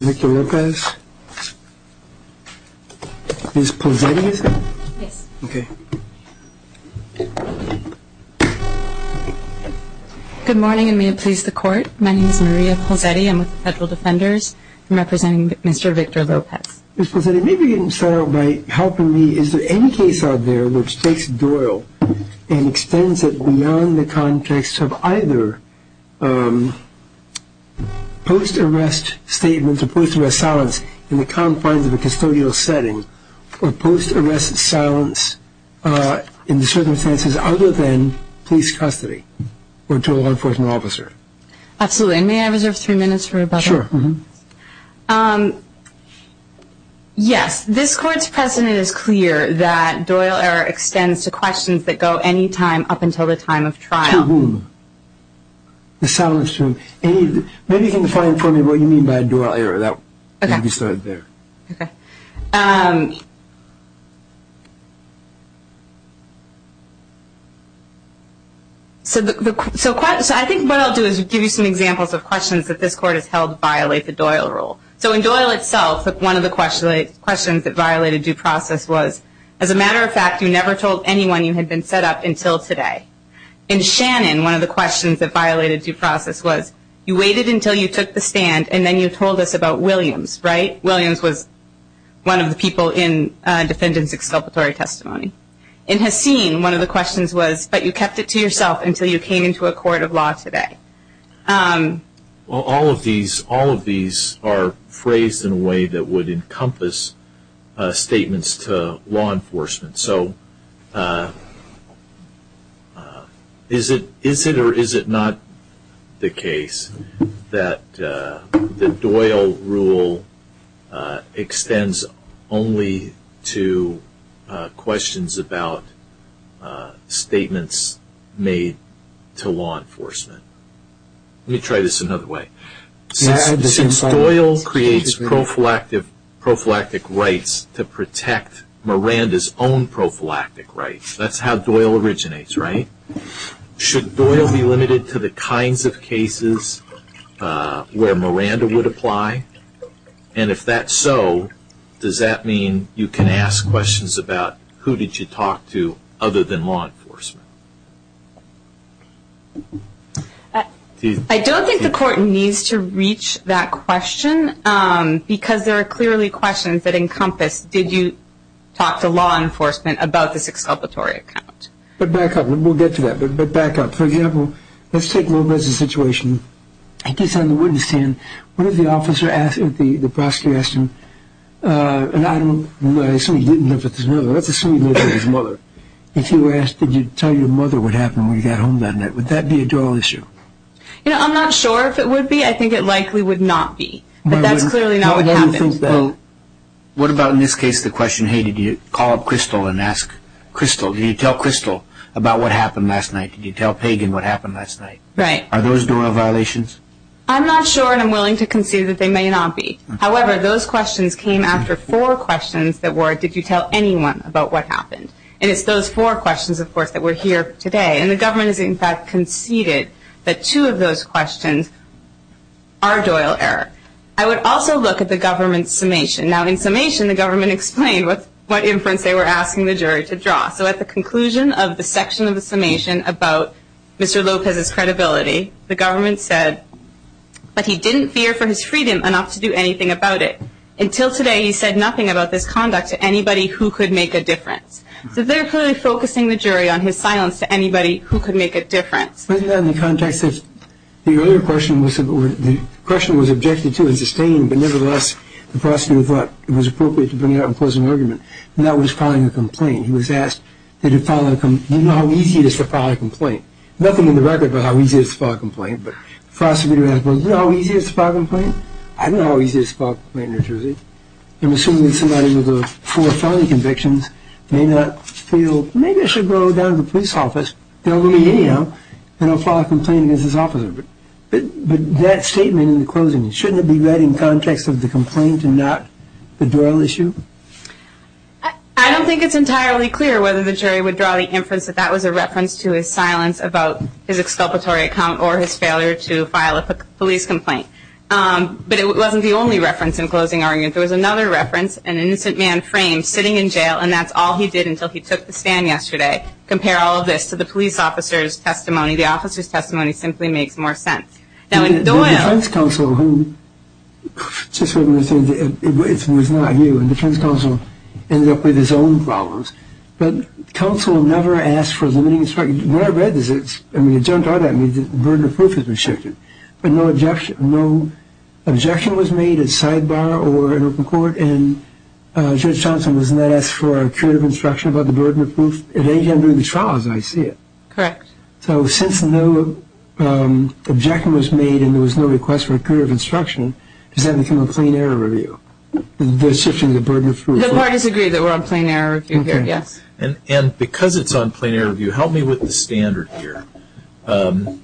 Good morning and may it please the court. My name is Maria Polsetti. I'm with the Federal Defenders. I'm representing Mr. Victor Lopez. Ms. Polsetti, maybe you can start out by helping me. Is there any case out there which takes Doyle and extends it beyond the context of either post-arrest statements or post-arrest silence in the confines of a custodial setting or post-arrest silence in the circumstances other than police custody or to a law enforcement officer? Absolutely, and may I reserve three minutes for rebuttal? Sure. Yes, this court's precedent is clear that Doyle error extends to questions that go any time up until the time of trial. To whom? Maybe you can find for me what you mean by Doyle error. Okay. So I think what I'll do is give you some examples of questions that this court has held violate the Doyle rule. So in Doyle itself, one of the questions that violated due process was, as a matter of fact, you never told anyone you had been set up until today. In Shannon, one of the questions that violated due process was, you waited until you took the stand and then you told us about Williams, right? Williams was one of the people in Defendant's Exculpatory Testimony. In Haseen, one of the questions was, but you kept it to yourself until you came into a court of law today. All of these are phrased in a way that would encompass statements to law enforcement. So is it or is it not the case that the Doyle rule extends only to questions about statements made to law enforcement? Let me try this another way. Since Doyle creates prophylactic rights to protect Miranda's own prophylactic rights, that's how Doyle originates, right? Should Doyle be limited to the kinds of cases where Miranda would apply? And if that's so, does that mean you can ask questions about who did you talk to other than law enforcement? I don't think the court needs to reach that question, because there are clearly questions that encompass, did you talk to law enforcement about this exculpatory account? But back up, we'll get to that, but back up. For example, let's take Lopez's situation. I guess on the witness stand, what if the prosecutor asked him, and I assume he didn't live with his mother, let's assume he lived with his mother, if he were asked, did you tell your mother what happened when you got home that night, would that be a Doyle issue? I'm not sure if it would be. I think it likely would not be, but that's clearly not what happened. What about in this case the question, hey, did you call up Crystal and ask Crystal, did you tell Crystal about what happened last night? Did you tell Pagan what happened last night? Are those Doyle violations? I'm not sure, and I'm willing to concede that they may not be. However, those questions came after four questions that were, did you tell anyone about what happened? And it's those four questions, of course, that we're here today. And the government has, in fact, conceded that two of those questions are Doyle error. I would also look at the government's summation. Now, in summation, the government explained what inference they were asking the jury to draw. So at the conclusion of the section of the summation about Mr. Lopez's credibility, the government said, but he didn't fear for his freedom enough to do anything about it. Until today, he said nothing about this conduct to anybody who could make a difference. So they're clearly focusing the jury on his silence to anybody who could make a difference. In the context of the earlier question, the question was objected to and sustained, but nevertheless the prosecutor thought it was appropriate to bring it up and close an argument, and that was filing a complaint. He was asked, did you know how easy it is to file a complaint? Nothing in the record about how easy it is to file a complaint, but the prosecutor asked, did you know how easy it is to file a complaint? I didn't know how easy it is to file a complaint, Mr. Rizzi. I'm assuming that somebody with the four felony convictions may not feel, maybe I should go down to the police office, they'll let me in, you know, and I'll file a complaint against this officer. But that statement in the closing, shouldn't it be read in context of the complaint and not the Doyle issue? I don't think it's entirely clear whether the jury would draw the inference that that was a reference to his silence about his exculpatory account or his failure to file a police complaint. But it wasn't the only reference in closing arguments. There was another reference, an innocent man framed sitting in jail, and that's all he did until he took the stand yesterday. Compare all of this to the police officer's testimony. The officer's testimony simply makes more sense. Now, in Doyle. The defense counsel, who, just so you understand, it was not you. The defense counsel ended up with his own problems. But counsel never asked for a limiting instruction. What I read is it's, I mean, it jumped out at me that the burden of proof has been shifted. But no objection was made at sidebar or in open court, and Judge Thompson was not asked for a curative instruction about the burden of proof. At any time during the trial, as I see it. Correct. So since no objection was made and there was no request for a curative instruction, The parties agree that we're on plain error review here, yes. And because it's on plain error review, help me with the standard here. The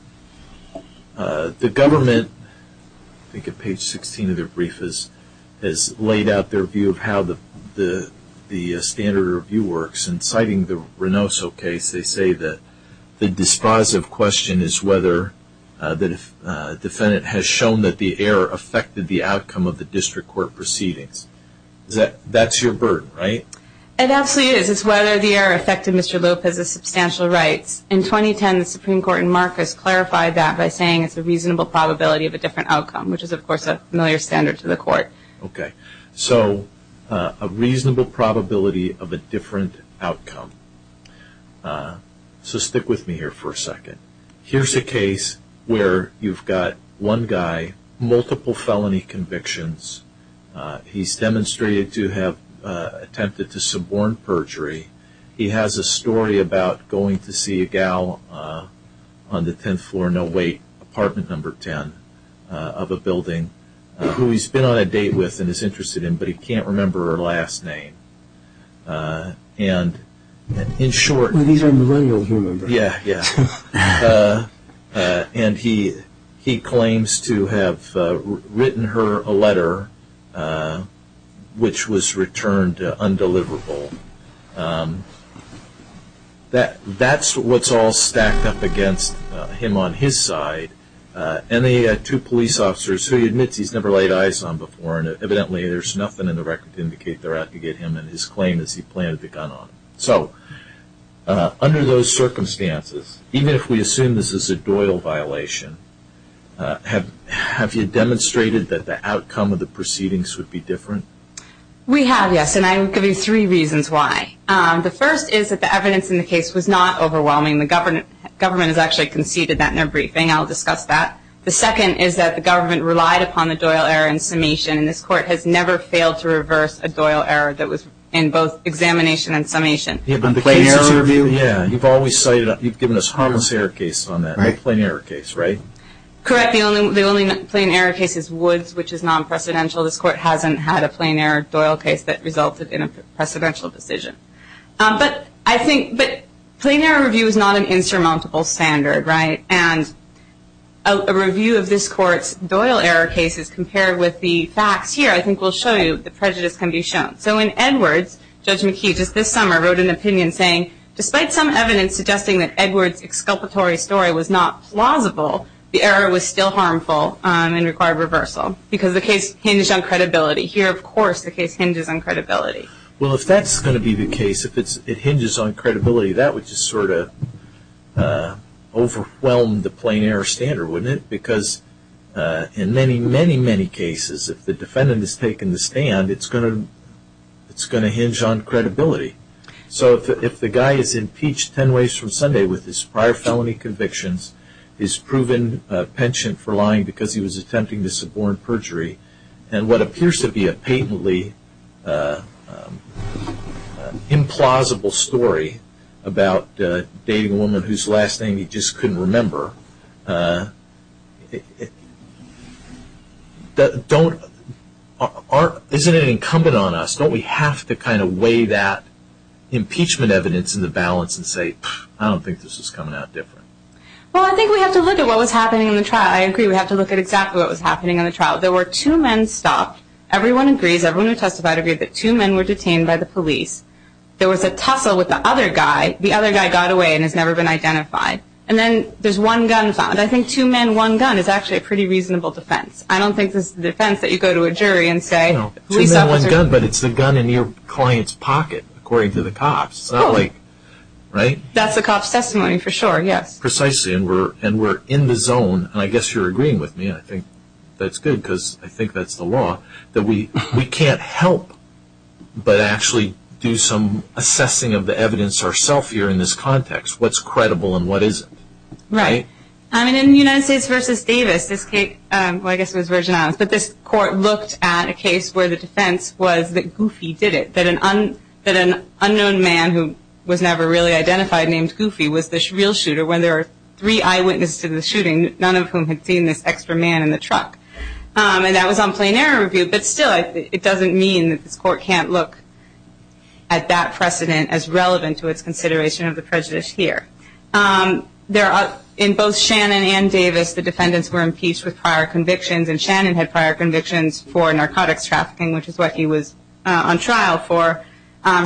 government, I think at page 16 of their brief, has laid out their view of how the standard review works. And citing the Renoso case, they say that the dispositive question is whether the defendant has shown that the error affected the outcome of the district court proceedings. That's your burden, right? It absolutely is. It's whether the error affected Mr. Lopez's substantial rights. In 2010, the Supreme Court in Marcus clarified that by saying it's a reasonable probability of a different outcome, which is, of course, a familiar standard to the court. Okay. So a reasonable probability of a different outcome. So stick with me here for a second. Here's a case where you've got one guy, multiple felony convictions. He's demonstrated to have attempted to suborn perjury. He has a story about going to see a gal on the 10th floor, no wait, apartment number 10 of a building, who he's been on a date with and is interested in, but he can't remember her last name. And in short he's a millennial human being. Yeah, yeah. And he claims to have written her a letter, which was returned undeliverable. That's what's all stacked up against him on his side, and the two police officers who he admits he's never laid eyes on before, and evidently there's nothing in the record to indicate they're out to get him and his claim that he planted the gun on him. So under those circumstances, even if we assume this is a Doyle violation, have you demonstrated that the outcome of the proceedings would be different? We have, yes, and I'm going to give you three reasons why. The first is that the evidence in the case was not overwhelming. The government has actually conceded that in their briefing. I'll discuss that. The second is that the government relied upon the Doyle error in summation, and this Court has never failed to reverse a Doyle error that was in both examination and summation. You mean the plain error review? Yeah, you've always cited it. You've given us harmless error cases on that, no plain error case, right? Correct. The only plain error case is Woods, which is non-presidential. This Court hasn't had a plain error Doyle case that resulted in a precedential decision. But I think plain error review is not an insurmountable standard, right? And a review of this Court's Doyle error cases compared with the facts here I think will show you the prejudice can be shown. So in Edwards, Judge McKee just this summer wrote an opinion saying, despite some evidence suggesting that Edwards' exculpatory story was not plausible, the error was still harmful and required reversal because the case hinges on credibility. Here, of course, the case hinges on credibility. Well, if that's going to be the case, if it hinges on credibility, that would just sort of overwhelm the plain error standard, wouldn't it? Because in many, many, many cases, if the defendant has taken the stand, it's going to hinge on credibility. So if the guy is impeached ten ways from Sunday with his prior felony convictions, his proven penchant for lying because he was attempting to suborn perjury, and what appears to be a patently implausible story about a dating woman whose last name he just couldn't remember, isn't it incumbent on us, don't we have to kind of weigh that impeachment evidence into balance and say, I don't think this is coming out different? Well, I think we have to look at what was happening in the trial. I agree, we have to look at exactly what was happening in the trial. There were two men stopped. Everyone agrees. Everyone who testified agreed that two men were detained by the police. There was a tussle with the other guy. The other guy got away and has never been identified. And then there's one gun found. I think two men, one gun is actually a pretty reasonable defense. I don't think this is the defense that you go to a jury and say, police officer. Two men, one gun, but it's the gun in your client's pocket, according to the cops. Right? That's a cop's testimony for sure, yes. Precisely, and we're in the zone, and I guess you're agreeing with me. I think that's good, because I think that's the law, that we can't help but actually do some assessing of the evidence ourself here in this context, what's credible and what isn't. Right. I mean, in the United States v. Davis, this case, well, I guess it was Virgin Islands, but this court looked at a case where the defense was that Goofy did it, that an unknown man who was never really identified named Goofy was the real shooter when there were three eyewitnesses to the shooting, none of whom had seen this extra man in the truck. And that was on plain error review. But still, it doesn't mean that this court can't look at that precedent as relevant to its consideration of the prejudice here. In both Shannon and Davis, the defendants were impeached with prior convictions, and Shannon had prior convictions for narcotics trafficking, which is what he was on trial for.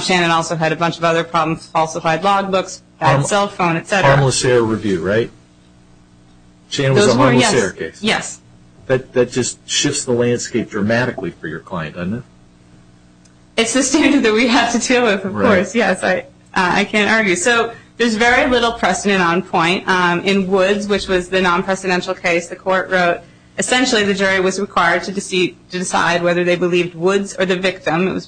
Shannon also had a bunch of other problems, falsified logbooks, bad cell phone, et cetera. Harmless error review, right? Shannon was on a harmless error case. Yes. That just shifts the landscape dramatically for your client, doesn't it? It's the standard that we have to deal with, of course. Yes, I can't argue. So there's very little precedent on point. In Woods, which was the non-presidential case, the court wrote, essentially the jury was required to decide whether they believed Woods or the victim.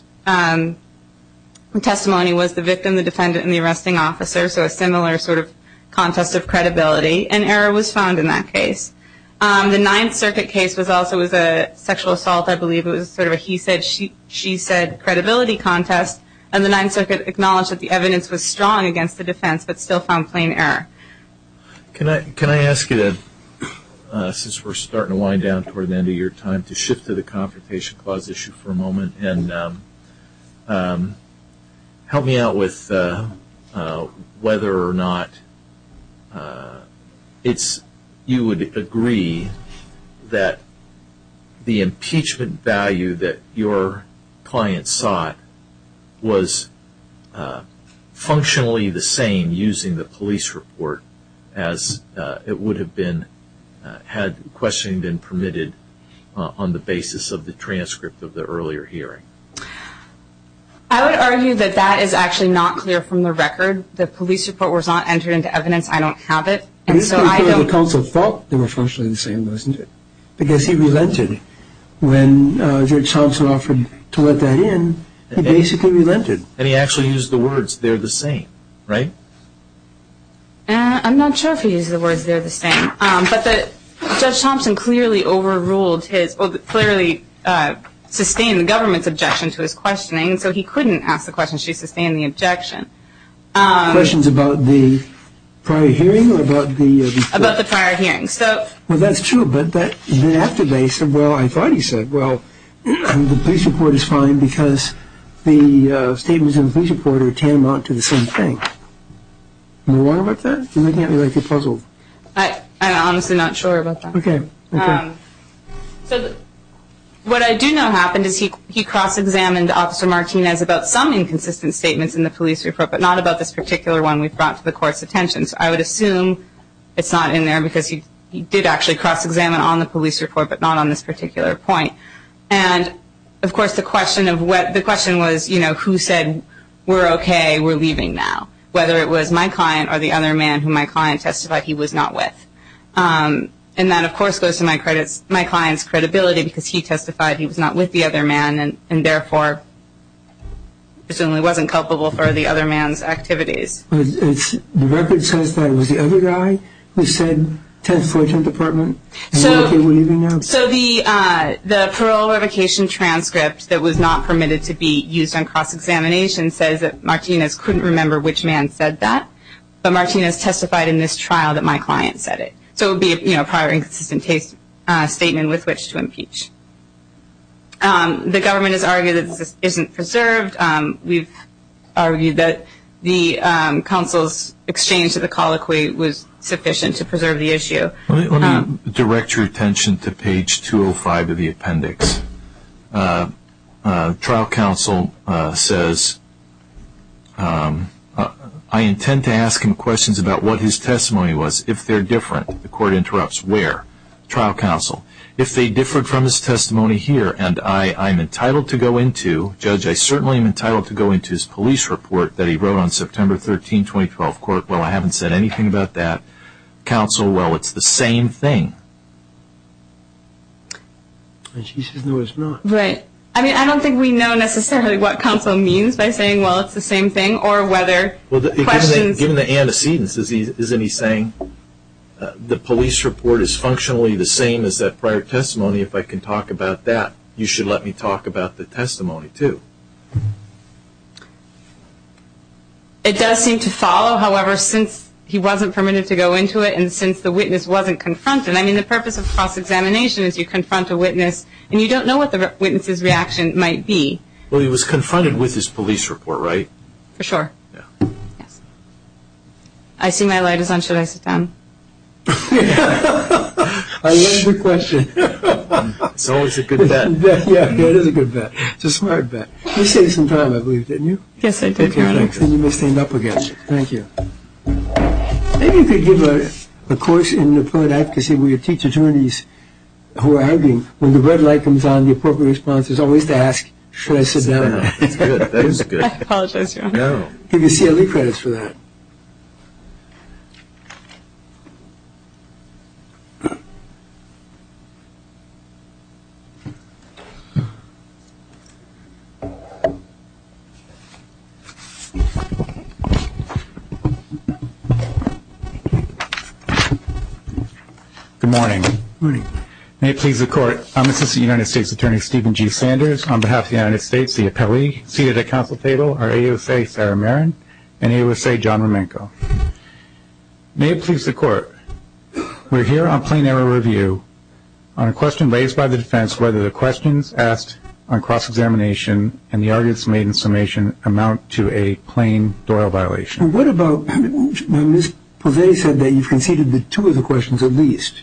The testimony was the victim, the defendant, and the arresting officer, so a similar sort of contest of credibility, and error was found in that case. The Ninth Circuit case also was a sexual assault. I believe it was sort of a he said, she said credibility contest, and the Ninth Circuit acknowledged that the evidence was strong against the defense but still found plain error. Can I ask you, since we're starting to wind down toward the end of your time, and help me out with whether or not you would agree that the impeachment value that your client sought was functionally the same using the police report as it would have been had questioning been permitted on the basis of the transcript of the earlier hearing? I would argue that that is actually not clear from the record. The police report was not entered into evidence. I don't have it, and so I don't. The counsel thought they were functionally the same, wasn't it, because he relented. When Judge Thompson offered to let that in, he basically relented, and he actually used the words, they're the same, right? I'm not sure if he used the words, they're the same. But Judge Thompson clearly overruled his, clearly sustained the government's objection to his questioning, so he couldn't ask the question. She sustained the objection. Questions about the prior hearing? About the prior hearing. Well, that's true, but then after they said, well, I thought he said, well, the police report is fine because the statements in the police report are tantamount to the same thing. Am I wrong about that? You're making it look like you're puzzled. I'm honestly not sure about that. Okay, okay. So what I do know happened is he cross-examined Officer Martinez about some inconsistent statements in the police report, but not about this particular one we brought to the Court's attention. So I would assume it's not in there because he did actually cross-examine on the police report, but not on this particular point. And, of course, the question was, you know, who said, we're okay, we're leaving now, whether it was my client or the other man who my client testified he was not with. And that, of course, goes to my client's credibility because he testified he was not with the other man and therefore presumably wasn't culpable for the other man's activities. The record says that it was the other guy who said 10th, 14th Department. So the parole revocation transcript that was not permitted to be used on cross-examination says that Martinez couldn't remember which man said that, but Martinez testified in this trial that my client said it. So it would be a prior inconsistent statement with which to impeach. The government has argued that this isn't preserved. We've argued that the counsel's exchange of the colloquy was sufficient to preserve the issue. Let me direct your attention to page 205 of the appendix. Trial counsel says, I intend to ask him questions about what his testimony was, if they're different. The Court interrupts, where? Trial counsel. If they differed from his testimony here and I am entitled to go into, Judge, I certainly am entitled to go into his police report that he wrote on September 13, 2012. Well, I haven't said anything about that. Counsel, well, it's the same thing. He says no, it's not. Right. I mean, I don't think we know necessarily what counsel means by saying, well, it's the same thing, or whether questions. Given the antecedents, isn't he saying the police report is functionally the same as that prior testimony? If I can talk about that, you should let me talk about the testimony, too. It does seem to follow, however, since he wasn't permitted to go into it and since the witness wasn't confronted. I mean, the purpose of cross-examination is you confront a witness and you don't know what the witness's reaction might be. Well, he was confronted with his police report, right? For sure. Yes. I see my light is on. Should I sit down? I love the question. It's always a good bet. Yeah, it is a good bet. It's a smart bet. You saved some time, I believe, didn't you? Yes, I did. Then you may stand up again. Thank you. Maybe you could give a course in Newport advocacy where you teach attorneys who are arguing. When the red light comes on, the appropriate response is always to ask, should I sit down? That's good. That is good. I apologize, Your Honor. No. Give your CLE credits for that. Good morning. Good morning. May it please the Court, I'm Assistant United States Attorney Stephen G. Sanders. On behalf of the United States, the appellee seated at the council table are AUSA Sarah Marin and AUSA John Romenko. May it please the Court, we're here on plain error review on a question raised by the defense whether the questions asked on cross-examination and the arguments made in summation amount to a plain Doyle violation. What about when Ms. Posey said that you've conceded that two of the questions at least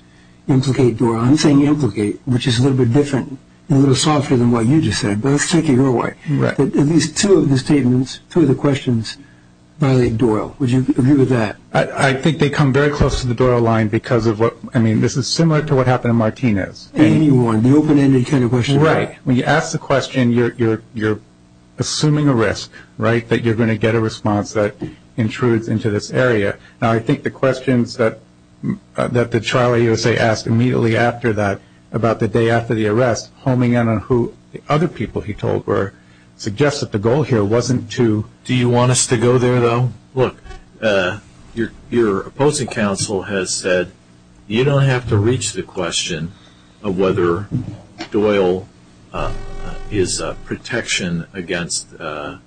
implicate Doyle. I'm saying implicate, which is a little bit different and a little softer than what you just said, but let's take it your way. At least two of the statements, two of the questions violate Doyle. Would you agree with that? I think they come very close to the Doyle line because of what, I mean, this is similar to what happened in Martinez. Anyone, the open-ended kind of question. Right. When you ask the question, you're assuming a risk, right, that you're going to get a response that intrudes into this area. Now, I think the questions that Charlie USA asked immediately after that, about the day after the arrest, homing in on who the other people he told were, suggests that the goal here wasn't to. Do you want us to go there, though? Look, your opposing counsel has said you don't have to reach the question of whether Doyle is a protection against the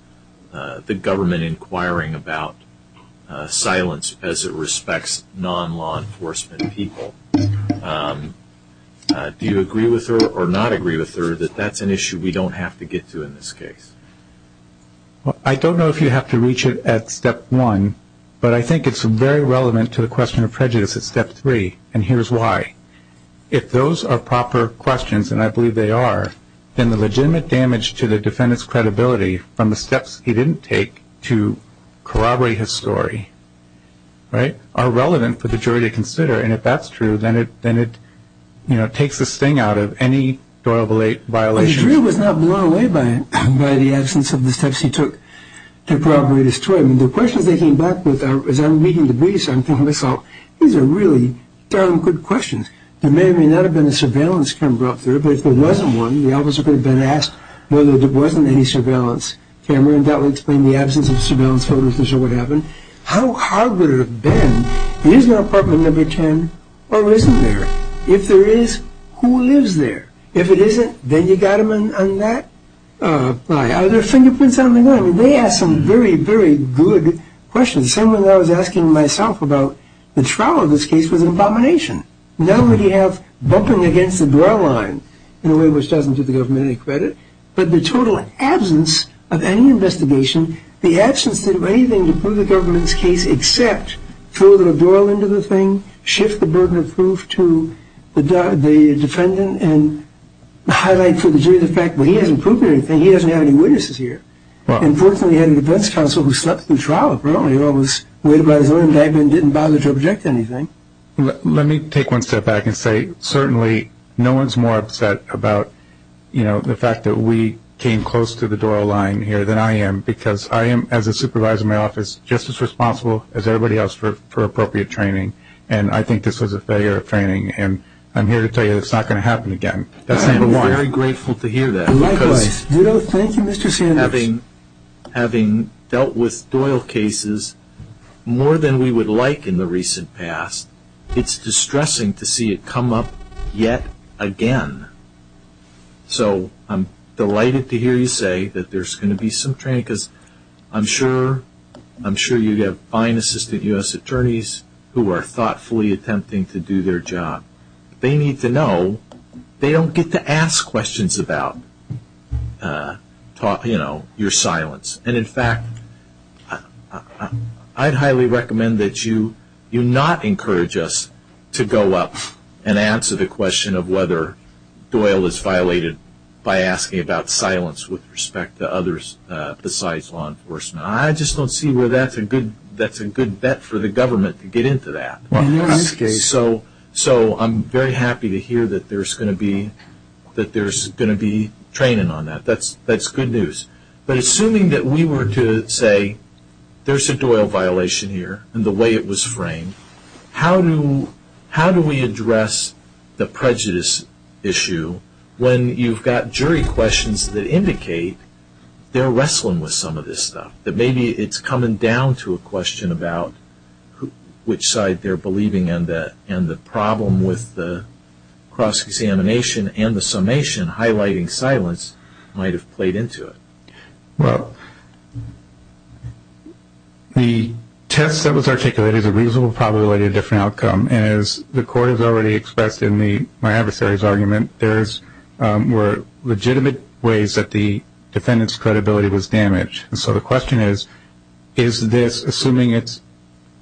government inquiring about silence as it respects non-law enforcement people. Do you agree with her or not agree with her that that's an issue we don't have to get to in this case? I don't know if you have to reach it at step one, but I think it's very relevant to the question of prejudice at step three, and here's why. If those are proper questions, and I believe they are, then the legitimate damage to the defendant's credibility from the steps he didn't take to corroborate his story, right, are relevant for the jury to consider, and if that's true, then it takes the sting out of any Doyle violation. The jury was not blown away by the absence of the steps he took to corroborate his story. The questions they came back with, as I'm reading the briefs, I'm thinking to myself, these are really darn good questions. There may or may not have been a surveillance camera up there, but if there wasn't one, the officer could have been asked whether there wasn't any surveillance camera, and that would explain the absence of surveillance photos to show what happened. How hard would it have been, is there an apartment number 10 or isn't there? If there is, who lives there? If it isn't, then you got them on that lie. They asked some very, very good questions. Someone I was asking myself about the trial of this case was an abomination. Not only do you have bumping against the Doyle line in a way which doesn't give the government any credit, but the total absence of any investigation, the absence of anything to prove the government's case except throw the Doyle into the thing, shift the burden of proof to the defendant, and highlight to the jury the fact that he hasn't proved anything, he doesn't have any witnesses here. Unfortunately, he had a defense counsel who slept through trial apparently or was waited by his own indictment and didn't bother to object to anything. Let me take one step back and say certainly no one's more upset about the fact that we came close to the Doyle line here than I am because I am, as a supervisor in my office, just as responsible as everybody else for appropriate training, and I think this was a failure of training, and I'm here to tell you it's not going to happen again. I'm very grateful to hear that. Likewise. Thank you, Mr. Sanders. Having dealt with Doyle cases more than we would like in the recent past, it's distressing to see it come up yet again. So I'm delighted to hear you say that there's going to be some training because I'm sure you have fine assistant U.S. attorneys who are thoughtfully attempting to do their job. They need to know they don't get to ask questions about your silence, and in fact I'd highly recommend that you not encourage us to go up and answer the question of whether Doyle is violated by asking about silence with respect to others besides law enforcement. I just don't see where that's a good bet for the government to get into that. So I'm very happy to hear that there's going to be training on that. That's good news. But assuming that we were to say there's a Doyle violation here and the way it was framed, how do we address the prejudice issue when you've got jury questions that indicate they're wrestling with some of this stuff, that maybe it's coming down to a question about which side they're believing in and the problem with the cross-examination and the summation highlighting silence might have played into it? Well, the test that was articulated is a reasonable probability of a different outcome, and as the Court has already expressed in my adversary's argument, there were legitimate ways that the defendant's credibility was damaged. And so the question is, is this, assuming it's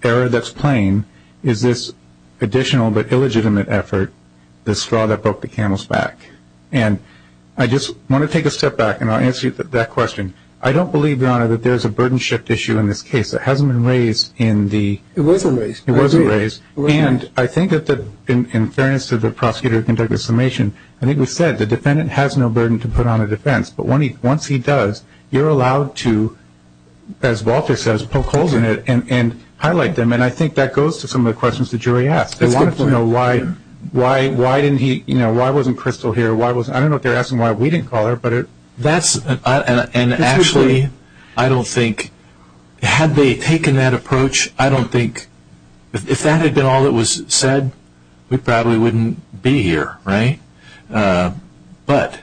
error that's plain, is this additional but illegitimate effort the straw that broke the camel's back? And I just want to take a step back, and I'll answer that question. I don't believe, Your Honor, that there's a burden shift issue in this case. It hasn't been raised in the... It wasn't raised. It wasn't raised. And I think that in fairness to the prosecutor who conducted the summation, I think we said the defendant has no burden to put on a defense. But once he does, you're allowed to, as Walter says, poke holes in it and highlight them. And I think that goes to some of the questions the jury asked. That's a good point. Why wasn't Crystal here? I don't know if they're asking why we didn't call her. And actually, I don't think, had they taken that approach, I don't think if that had been all that was said, we probably wouldn't be here, right? But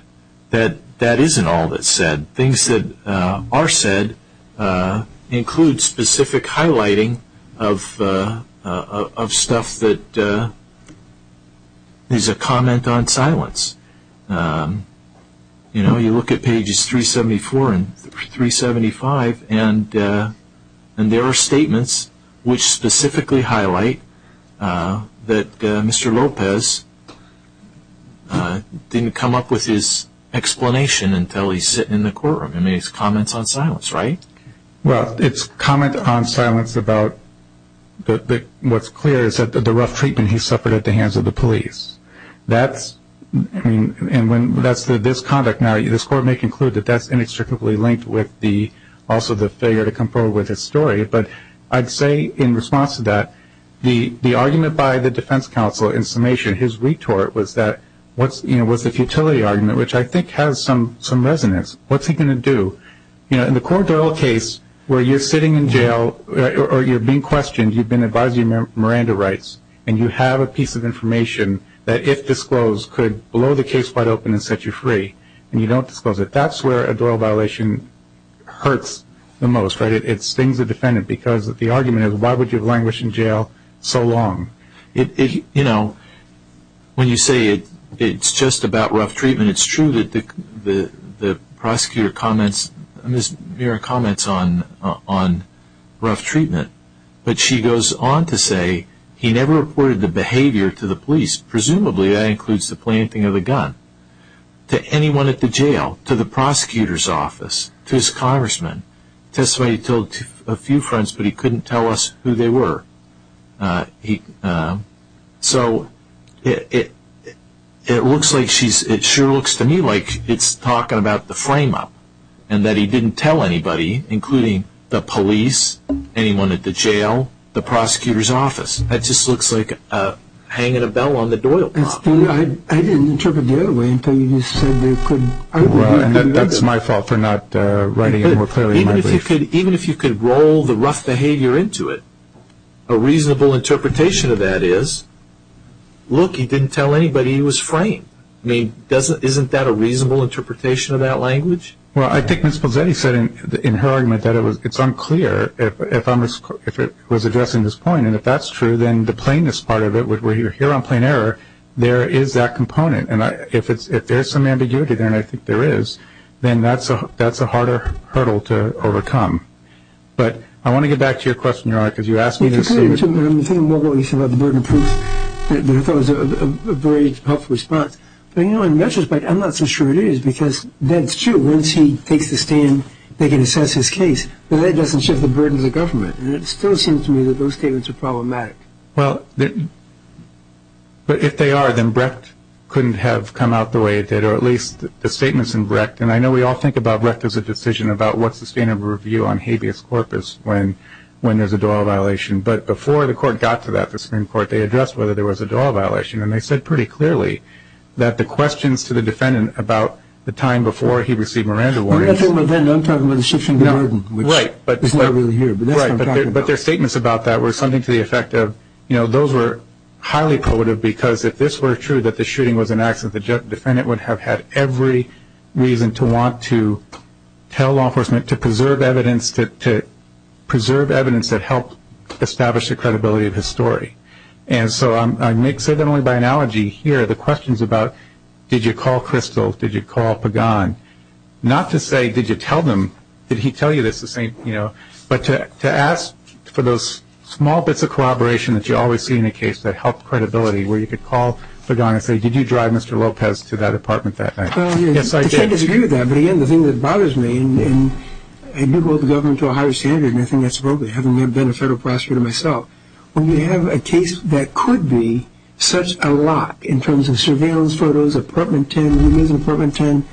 that isn't all that's said. Things that are said include specific highlighting of stuff that is a comment on silence. You know, you look at pages 374 and 375, and there are statements which specifically highlight that Mr. Lopez didn't come up with his explanation until he's sitting in the courtroom. I mean, it's comments on silence, right? Well, it's comment on silence about what's clear is that the rough treatment he suffered at the hands of the police. And that's this conduct. Now, this court may conclude that that's inextricably linked with also the failure to come forward with his story. But I'd say in response to that, the argument by the defense counsel in summation, his retort, was the futility argument, which I think has some resonance. What's he going to do? You know, in the Cora Doyle case where you're sitting in jail or you're being questioned, you've been advised of your Miranda rights, and you have a piece of information that if disclosed could blow the case wide open and set you free, and you don't disclose it, that's where a Doyle violation hurts the most, right? It stings the defendant because the argument is why would you have languished in jail so long? You know, when you say it's just about rough treatment, it's true that the prosecutor comments on rough treatment. But she goes on to say he never reported the behavior to the police, presumably that includes the planting of the gun, to anyone at the jail, to the prosecutor's office, to his congressman. He testified he told a few friends, but he couldn't tell us who they were. So it looks like she's – it sure looks to me like it's talking about the frame-up and that he didn't tell anybody, including the police, anyone at the jail, the prosecutor's office. That just looks like hanging a bell on the Doyle clock. I didn't interpret the other way until you just said you couldn't. And that's my fault for not writing it more clearly in my brief. Even if you could roll the rough behavior into it, a reasonable interpretation of that is, look, he didn't tell anybody he was framed. I mean, isn't that a reasonable interpretation of that language? Well, I think Ms. Pozzetti said in her argument that it's unclear if it was addressing this point. And if that's true, then the plainness part of it, we're here on plain error, there is that component. And if there's some ambiguity there, and I think there is, then that's a harder hurdle to overcome. But I want to get back to your question, Your Honor, because you asked me this. I'm thinking more about what you said about the burden of proof. I thought it was a very helpful response. But, you know, in retrospect, I'm not so sure it is because that's true. Once he takes the stand, they can assess his case. But that doesn't shift the burden to the government. And it still seems to me that those statements are problematic. Well, but if they are, then Brecht couldn't have come out the way it did, or at least the statements in Brecht. And I know we all think about Brecht as a decision about what's the standard of review on habeas corpus when there's a dual violation. But before the court got to that, the Supreme Court, they addressed whether there was a dual violation. And they said pretty clearly that the questions to the defendant about the time before he received Miranda warnings. I'm not talking about then. I'm talking about the shift in the burden, which is not really here. But that's what I'm talking about. The questions about that were something to the effect of, you know, those were highly poetic because if this were true, that the shooting was an accident, the defendant would have had every reason to want to tell law enforcement, to preserve evidence that helped establish the credibility of his story. And so I say that only by analogy here. The questions about did you call Crystal, did you call Pagan, not to say did you tell them, did he tell you this, but to ask for those small bits of collaboration that you always see in a case that help credibility, where you could call Pagan and say, did you drive Mr. Lopez to that apartment that night? Yes, I did. I disagree with that. But, again, the thing that bothers me, and I do hold the government to a higher standard, and I think that's appropriate having never been a federal prosecutor myself, when you have a case that could be such a lock in terms of surveillance photos, apartment 10,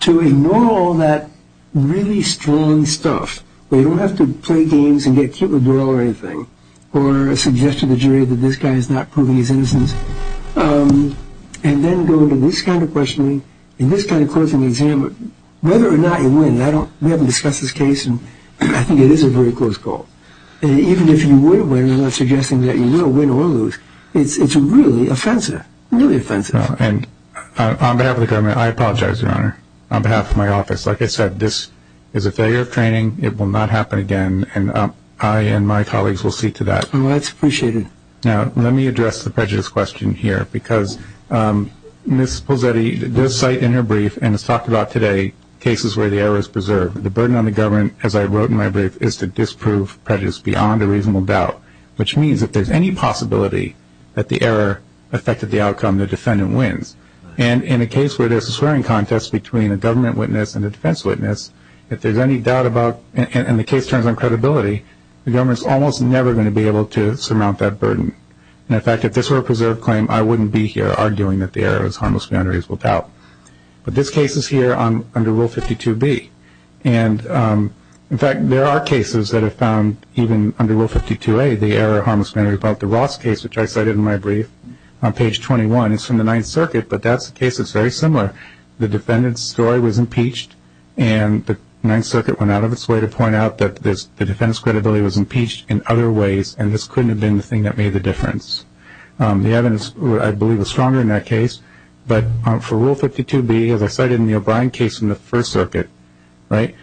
to ignore all that really strong stuff where you don't have to play games and get cute with Doral or anything or suggest to the jury that this guy is not proving his innocence, and then go to this kind of questioning and this kind of closing the exam, whether or not you win. We haven't discussed this case, and I think it is a very close call. Even if you would have won, I'm not suggesting that you will win or lose. It's really offensive, really offensive. On behalf of the government, I apologize, Your Honor. On behalf of my office, like I said, this is a failure of training. It will not happen again, and I and my colleagues will see to that. Well, that's appreciated. Now, let me address the prejudice question here, because Ms. Pulsetti does cite in her brief and has talked about today cases where the error is preserved. The burden on the government, as I wrote in my brief, is to disprove prejudice beyond a reasonable doubt, which means if there's any possibility that the error affected the outcome, the defendant wins. And in a case where there's a swearing contest between a government witness and a defense witness, if there's any doubt about, and the case turns on credibility, the government is almost never going to be able to surmount that burden. In fact, if this were a preserved claim, I wouldn't be here arguing that the error is harmless beyond a reasonable doubt. But this case is here under Rule 52B. And, in fact, there are cases that have found even under Rule 52A the error harmless matters about the Ross case, which I cited in my brief on page 21. It's from the Ninth Circuit, but that's the case that's very similar. The defendant's story was impeached, and the Ninth Circuit went out of its way to point out that the defendant's credibility was impeached in other ways, and this couldn't have been the thing that made the difference. The evidence, I believe, was stronger in that case. But for Rule 52B, as I cited in the O'Brien case in the First Circuit, right,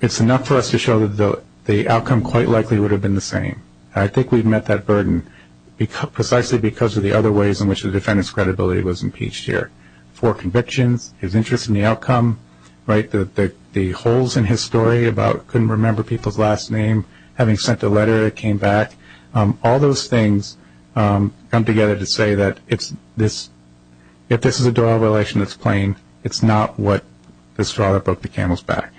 it's enough for us to show that the outcome quite likely would have been the same. I think we've met that burden precisely because of the other ways in which the defendant's credibility was impeached here. Four convictions, his interest in the outcome, right, the holes in his story about couldn't remember people's last name, having sent a letter that came back, all those things come together to say that if this is a dual relation that's claimed, it's not what the straw that broke the camel's back.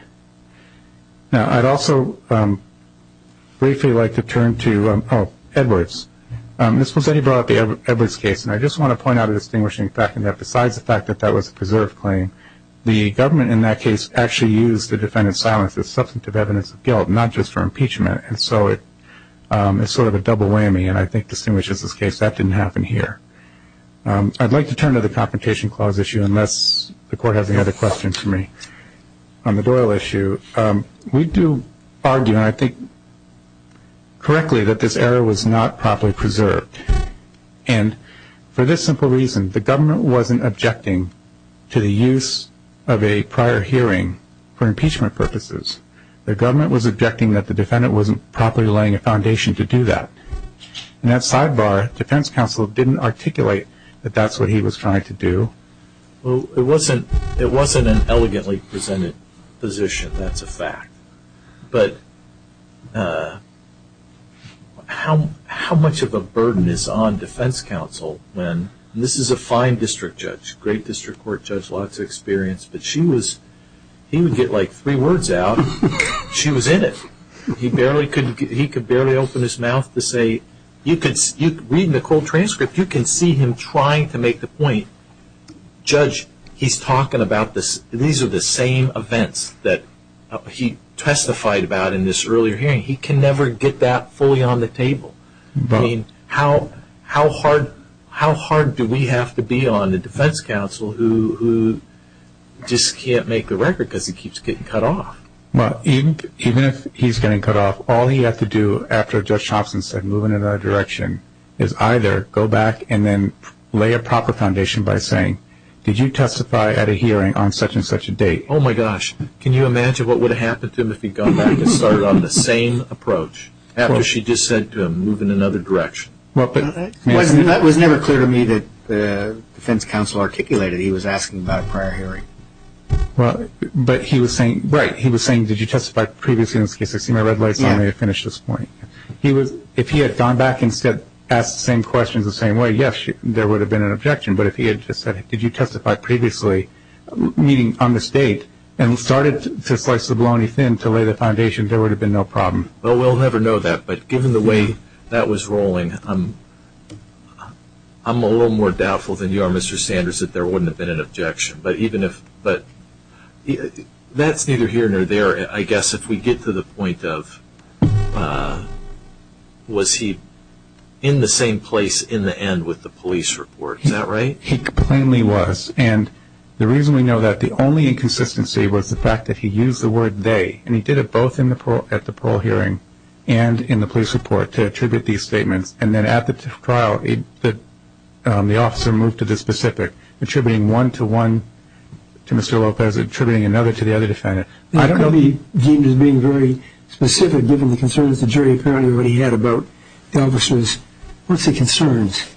Now, I'd also briefly like to turn to Edwards. This was when he brought up the Edwards case, and I just want to point out a distinguishing fact in that besides the fact that that was a preserved claim, the government in that case actually used the defendant's silence as substantive evidence of guilt, not just for impeachment. And so it's sort of a double whammy, and I think distinguishes this case. That didn't happen here. I'd like to turn to the Confrontation Clause issue, unless the Court has any other questions for me. On the Doyle issue, we do argue, and I think correctly, that this error was not properly preserved. And for this simple reason, the government wasn't objecting to the use of a prior hearing for impeachment purposes. The government was objecting that the defendant wasn't properly laying a foundation to do that. And that sidebar, defense counsel didn't articulate that that's what he was trying to do. Well, it wasn't an elegantly presented position. That's a fact. But how much of a burden is on defense counsel when this is a fine district judge, great district court judge, lots of experience, but she was, he would get like three words out, she was in it. He could barely open his mouth to say, you can read in the cold transcript, you can see him trying to make the point, Judge, he's talking about these are the same events that he testified about in this earlier hearing. He can never get that fully on the table. I mean, how hard do we have to be on the defense counsel who just can't make the record because he keeps getting cut off? Well, even if he's getting cut off, all he had to do, after Judge Thompson said, move in another direction, is either go back and then lay a proper foundation by saying, did you testify at a hearing on such and such a date? Oh, my gosh. Can you imagine what would have happened to him if he'd gone back and started on the same approach after she just said to him, move in another direction? That was never clear to me that the defense counsel articulated he was asking about a prior hearing. But he was saying, right, he was saying, did you testify previously in this case? I see my red lights on. I may have finished this morning. If he had gone back and asked the same questions the same way, yes, there would have been an objection. But if he had just said, did you testify previously, meaning on this date, and started to slice the baloney thin to lay the foundation, there would have been no problem. Well, we'll never know that. But given the way that was rolling, I'm a little more doubtful than you are, Mr. Sanders, that there wouldn't have been an objection. But that's neither here nor there. I guess if we get to the point of was he in the same place in the end with the police report, is that right? He plainly was. And the reason we know that, the only inconsistency was the fact that he used the word they, and he did it both at the parole hearing and in the police report to attribute these statements. And then at the trial, the officer moved to the specific, attributing one to one to Mr. Lopez, attributing another to the other defendant. I don't know if he deemed as being very specific, given the concerns the jury apparently already had about the officers. What's the concerns?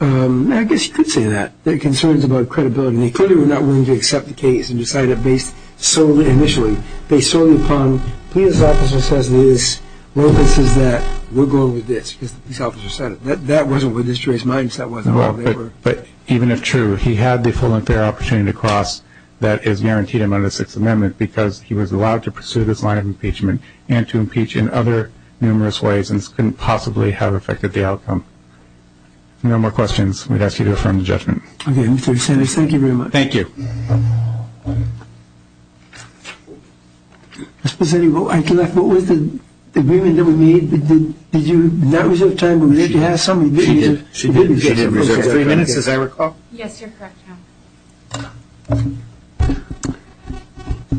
I guess you could say that, the concerns about credibility. They clearly were not willing to accept the case and decided that based solely, initially, based solely upon what the police officer says it is, Lopez says that we're going with this because the police officer said it. That wasn't what this jury's mindset was at all. But even if true, he had the full and fair opportunity to cross that is guaranteed under the Sixth Amendment because he was allowed to pursue this line of impeachment and to impeach in other numerous ways and this couldn't possibly have affected the outcome. If there are no more questions, we'd ask you to affirm the judgment. Okay, Mr. DeSantis, thank you very much. Thank you. Ms. Poseny, what was the agreement that we made? Did you not reserve time? Did you have some agreement? She did. She did. She did reserve three minutes, as I recall. Yes, you're correct, Your Honor.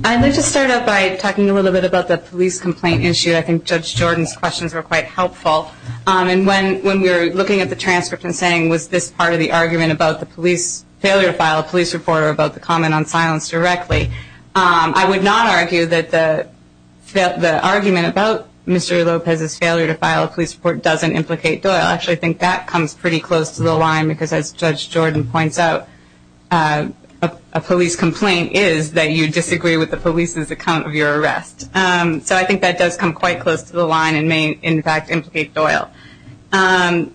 I'd like to start off by talking a little bit about the police complaint issue. I think Judge Jordan's questions were quite helpful. And when we were looking at the transcript and saying, was this part of the argument about the police failure file, police report, or about the comment on silence directly, I would not argue that the argument about Mr. Lopez's failure to file a police report doesn't implicate Doyle. Actually, I think that comes pretty close to the line because, as Judge Jordan points out, a police complaint is that you disagree with the police's account of your arrest. So I think that does come quite close to the line and may, in fact, implicate Doyle. My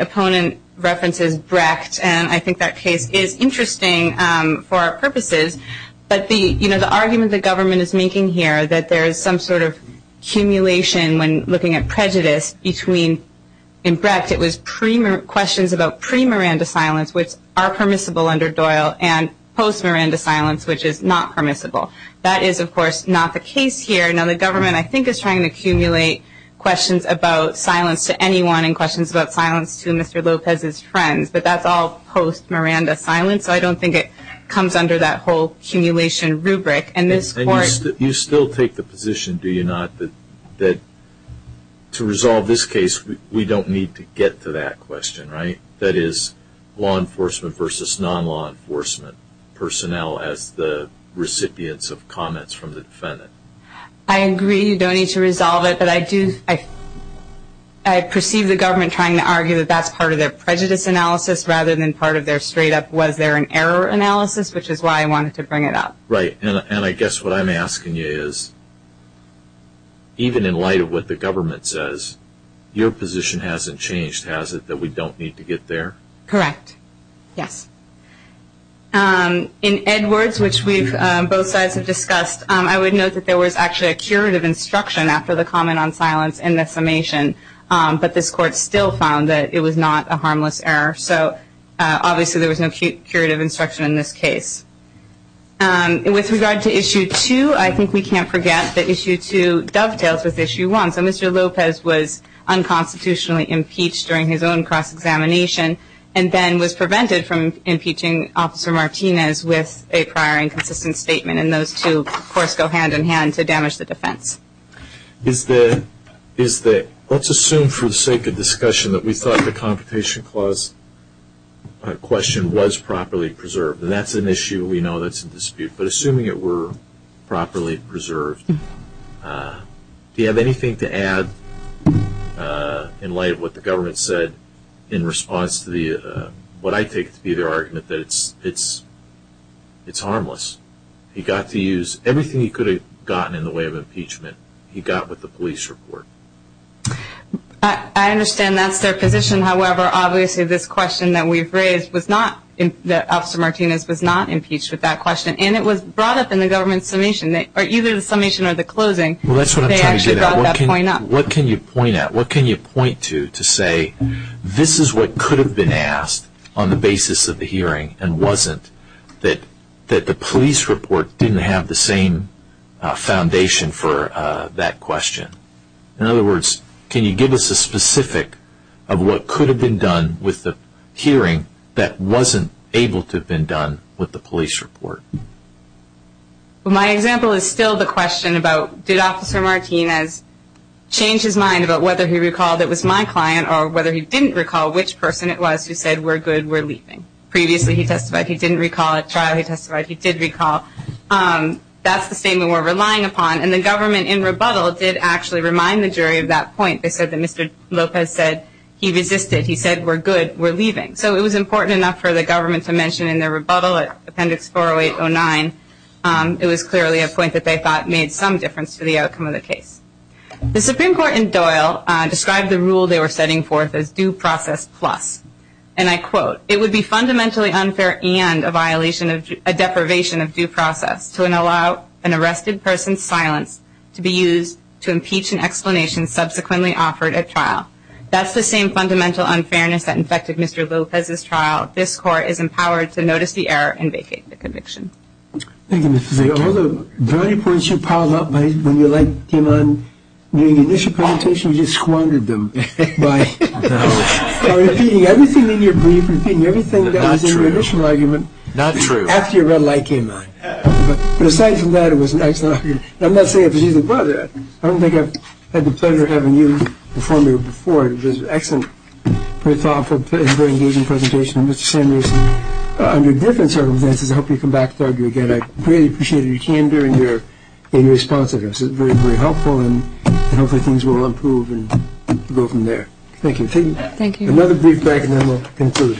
opponent references Brecht, and I think that case is interesting for our purposes. But, you know, the argument the government is making here, that there is some sort of accumulation when looking at prejudice between, in Brecht, it was questions about pre-Miranda silence, which are permissible under Doyle, and post-Miranda silence, which is not permissible. That is, of course, not the case here. Now, the government, I think, is trying to accumulate questions about silence to anyone and questions about silence to Mr. Lopez's friends, but that's all post-Miranda silence, so I don't think it comes under that whole accumulation rubric. And you still take the position, do you not, that to resolve this case, we don't need to get to that question, right? That is, law enforcement versus non-law enforcement personnel as the recipients of comments from the defendant. I agree you don't need to resolve it, but I perceive the government trying to argue that that's part of their prejudice analysis rather than part of their straight-up was there an error analysis, which is why I wanted to bring it up. Right, and I guess what I'm asking you is, even in light of what the government says, your position hasn't changed, has it, that we don't need to get there? Correct, yes. In Edwards, which both sides have discussed, I would note that there was actually a curative instruction after the comment on silence in the summation, but this Court still found that it was not a harmless error, so obviously there was no curative instruction in this case. With regard to Issue 2, I think we can't forget that Issue 2 dovetails with Issue 1, so Mr. Lopez was unconstitutionally impeached during his own cross-examination and then was prevented from impeaching Officer Martinez with a prior inconsistent statement, and those two, of course, go hand-in-hand to damage the defense. Let's assume for the sake of discussion that we thought the Confrontation Clause question was properly preserved, and that's an issue we know that's in dispute, but assuming it were properly preserved, do you have anything to add in light of what the government said in response to what I take to be their argument that it's harmless? He got to use everything he could have gotten in the way of impeachment, he got with the police report. I understand that's their position. However, obviously this question that we've raised, that Officer Martinez was not impeached with that question, and it was brought up in the government's summation, or either the summation or the closing. Well, that's what I'm trying to get at. What can you point at? What can you point to to say this is what could have been asked on the basis of the hearing and wasn't that the police report didn't have the same foundation for that question? In other words, can you give us a specific of what could have been done with the hearing that wasn't able to have been done with the police report? My example is still the question about did Officer Martinez change his mind about whether he recalled it was my client or whether he didn't recall which person it was who said we're good, we're leaving. Previously he testified he didn't recall at trial, he testified he did recall. That's the statement we're relying upon, and the government in rebuttal did actually remind the jury of that point. They said that Mr. Lopez said he resisted. He said we're good, we're leaving. So it was important enough for the government to mention in their rebuttal, Appendix 40809, it was clearly a point that they thought made some difference to the outcome of the case. The Supreme Court in Doyle described the rule they were setting forth as due process plus, and I quote, it would be fundamentally unfair and a violation of, a deprivation of due process to allow an arrested person's silence to be used to impeach an explanation subsequently offered at trial. That's the same fundamental unfairness that infected Mr. Lopez's trial. This Court is empowered to notice the error and vacate the conviction. Thank you, Ms. Fisayo. All the very points you piled up when your light came on during the initial presentation, you just squandered them by repeating everything in your brief, repeating everything that was in your initial argument after your red light came on. But aside from that, it was an excellent argument. I'm not saying it was either or. I don't think I've had the pleasure of having you perform here before. It was an excellent, very thoughtful, and very engaging presentation. Mr. Samuelson, under different circumstances, I hope you come back to argue again. I really appreciate your candor and your response to this. It was very, very helpful, and hopefully things will improve and go from there. Thank you. Thank you. Another brief break, and then we'll conclude.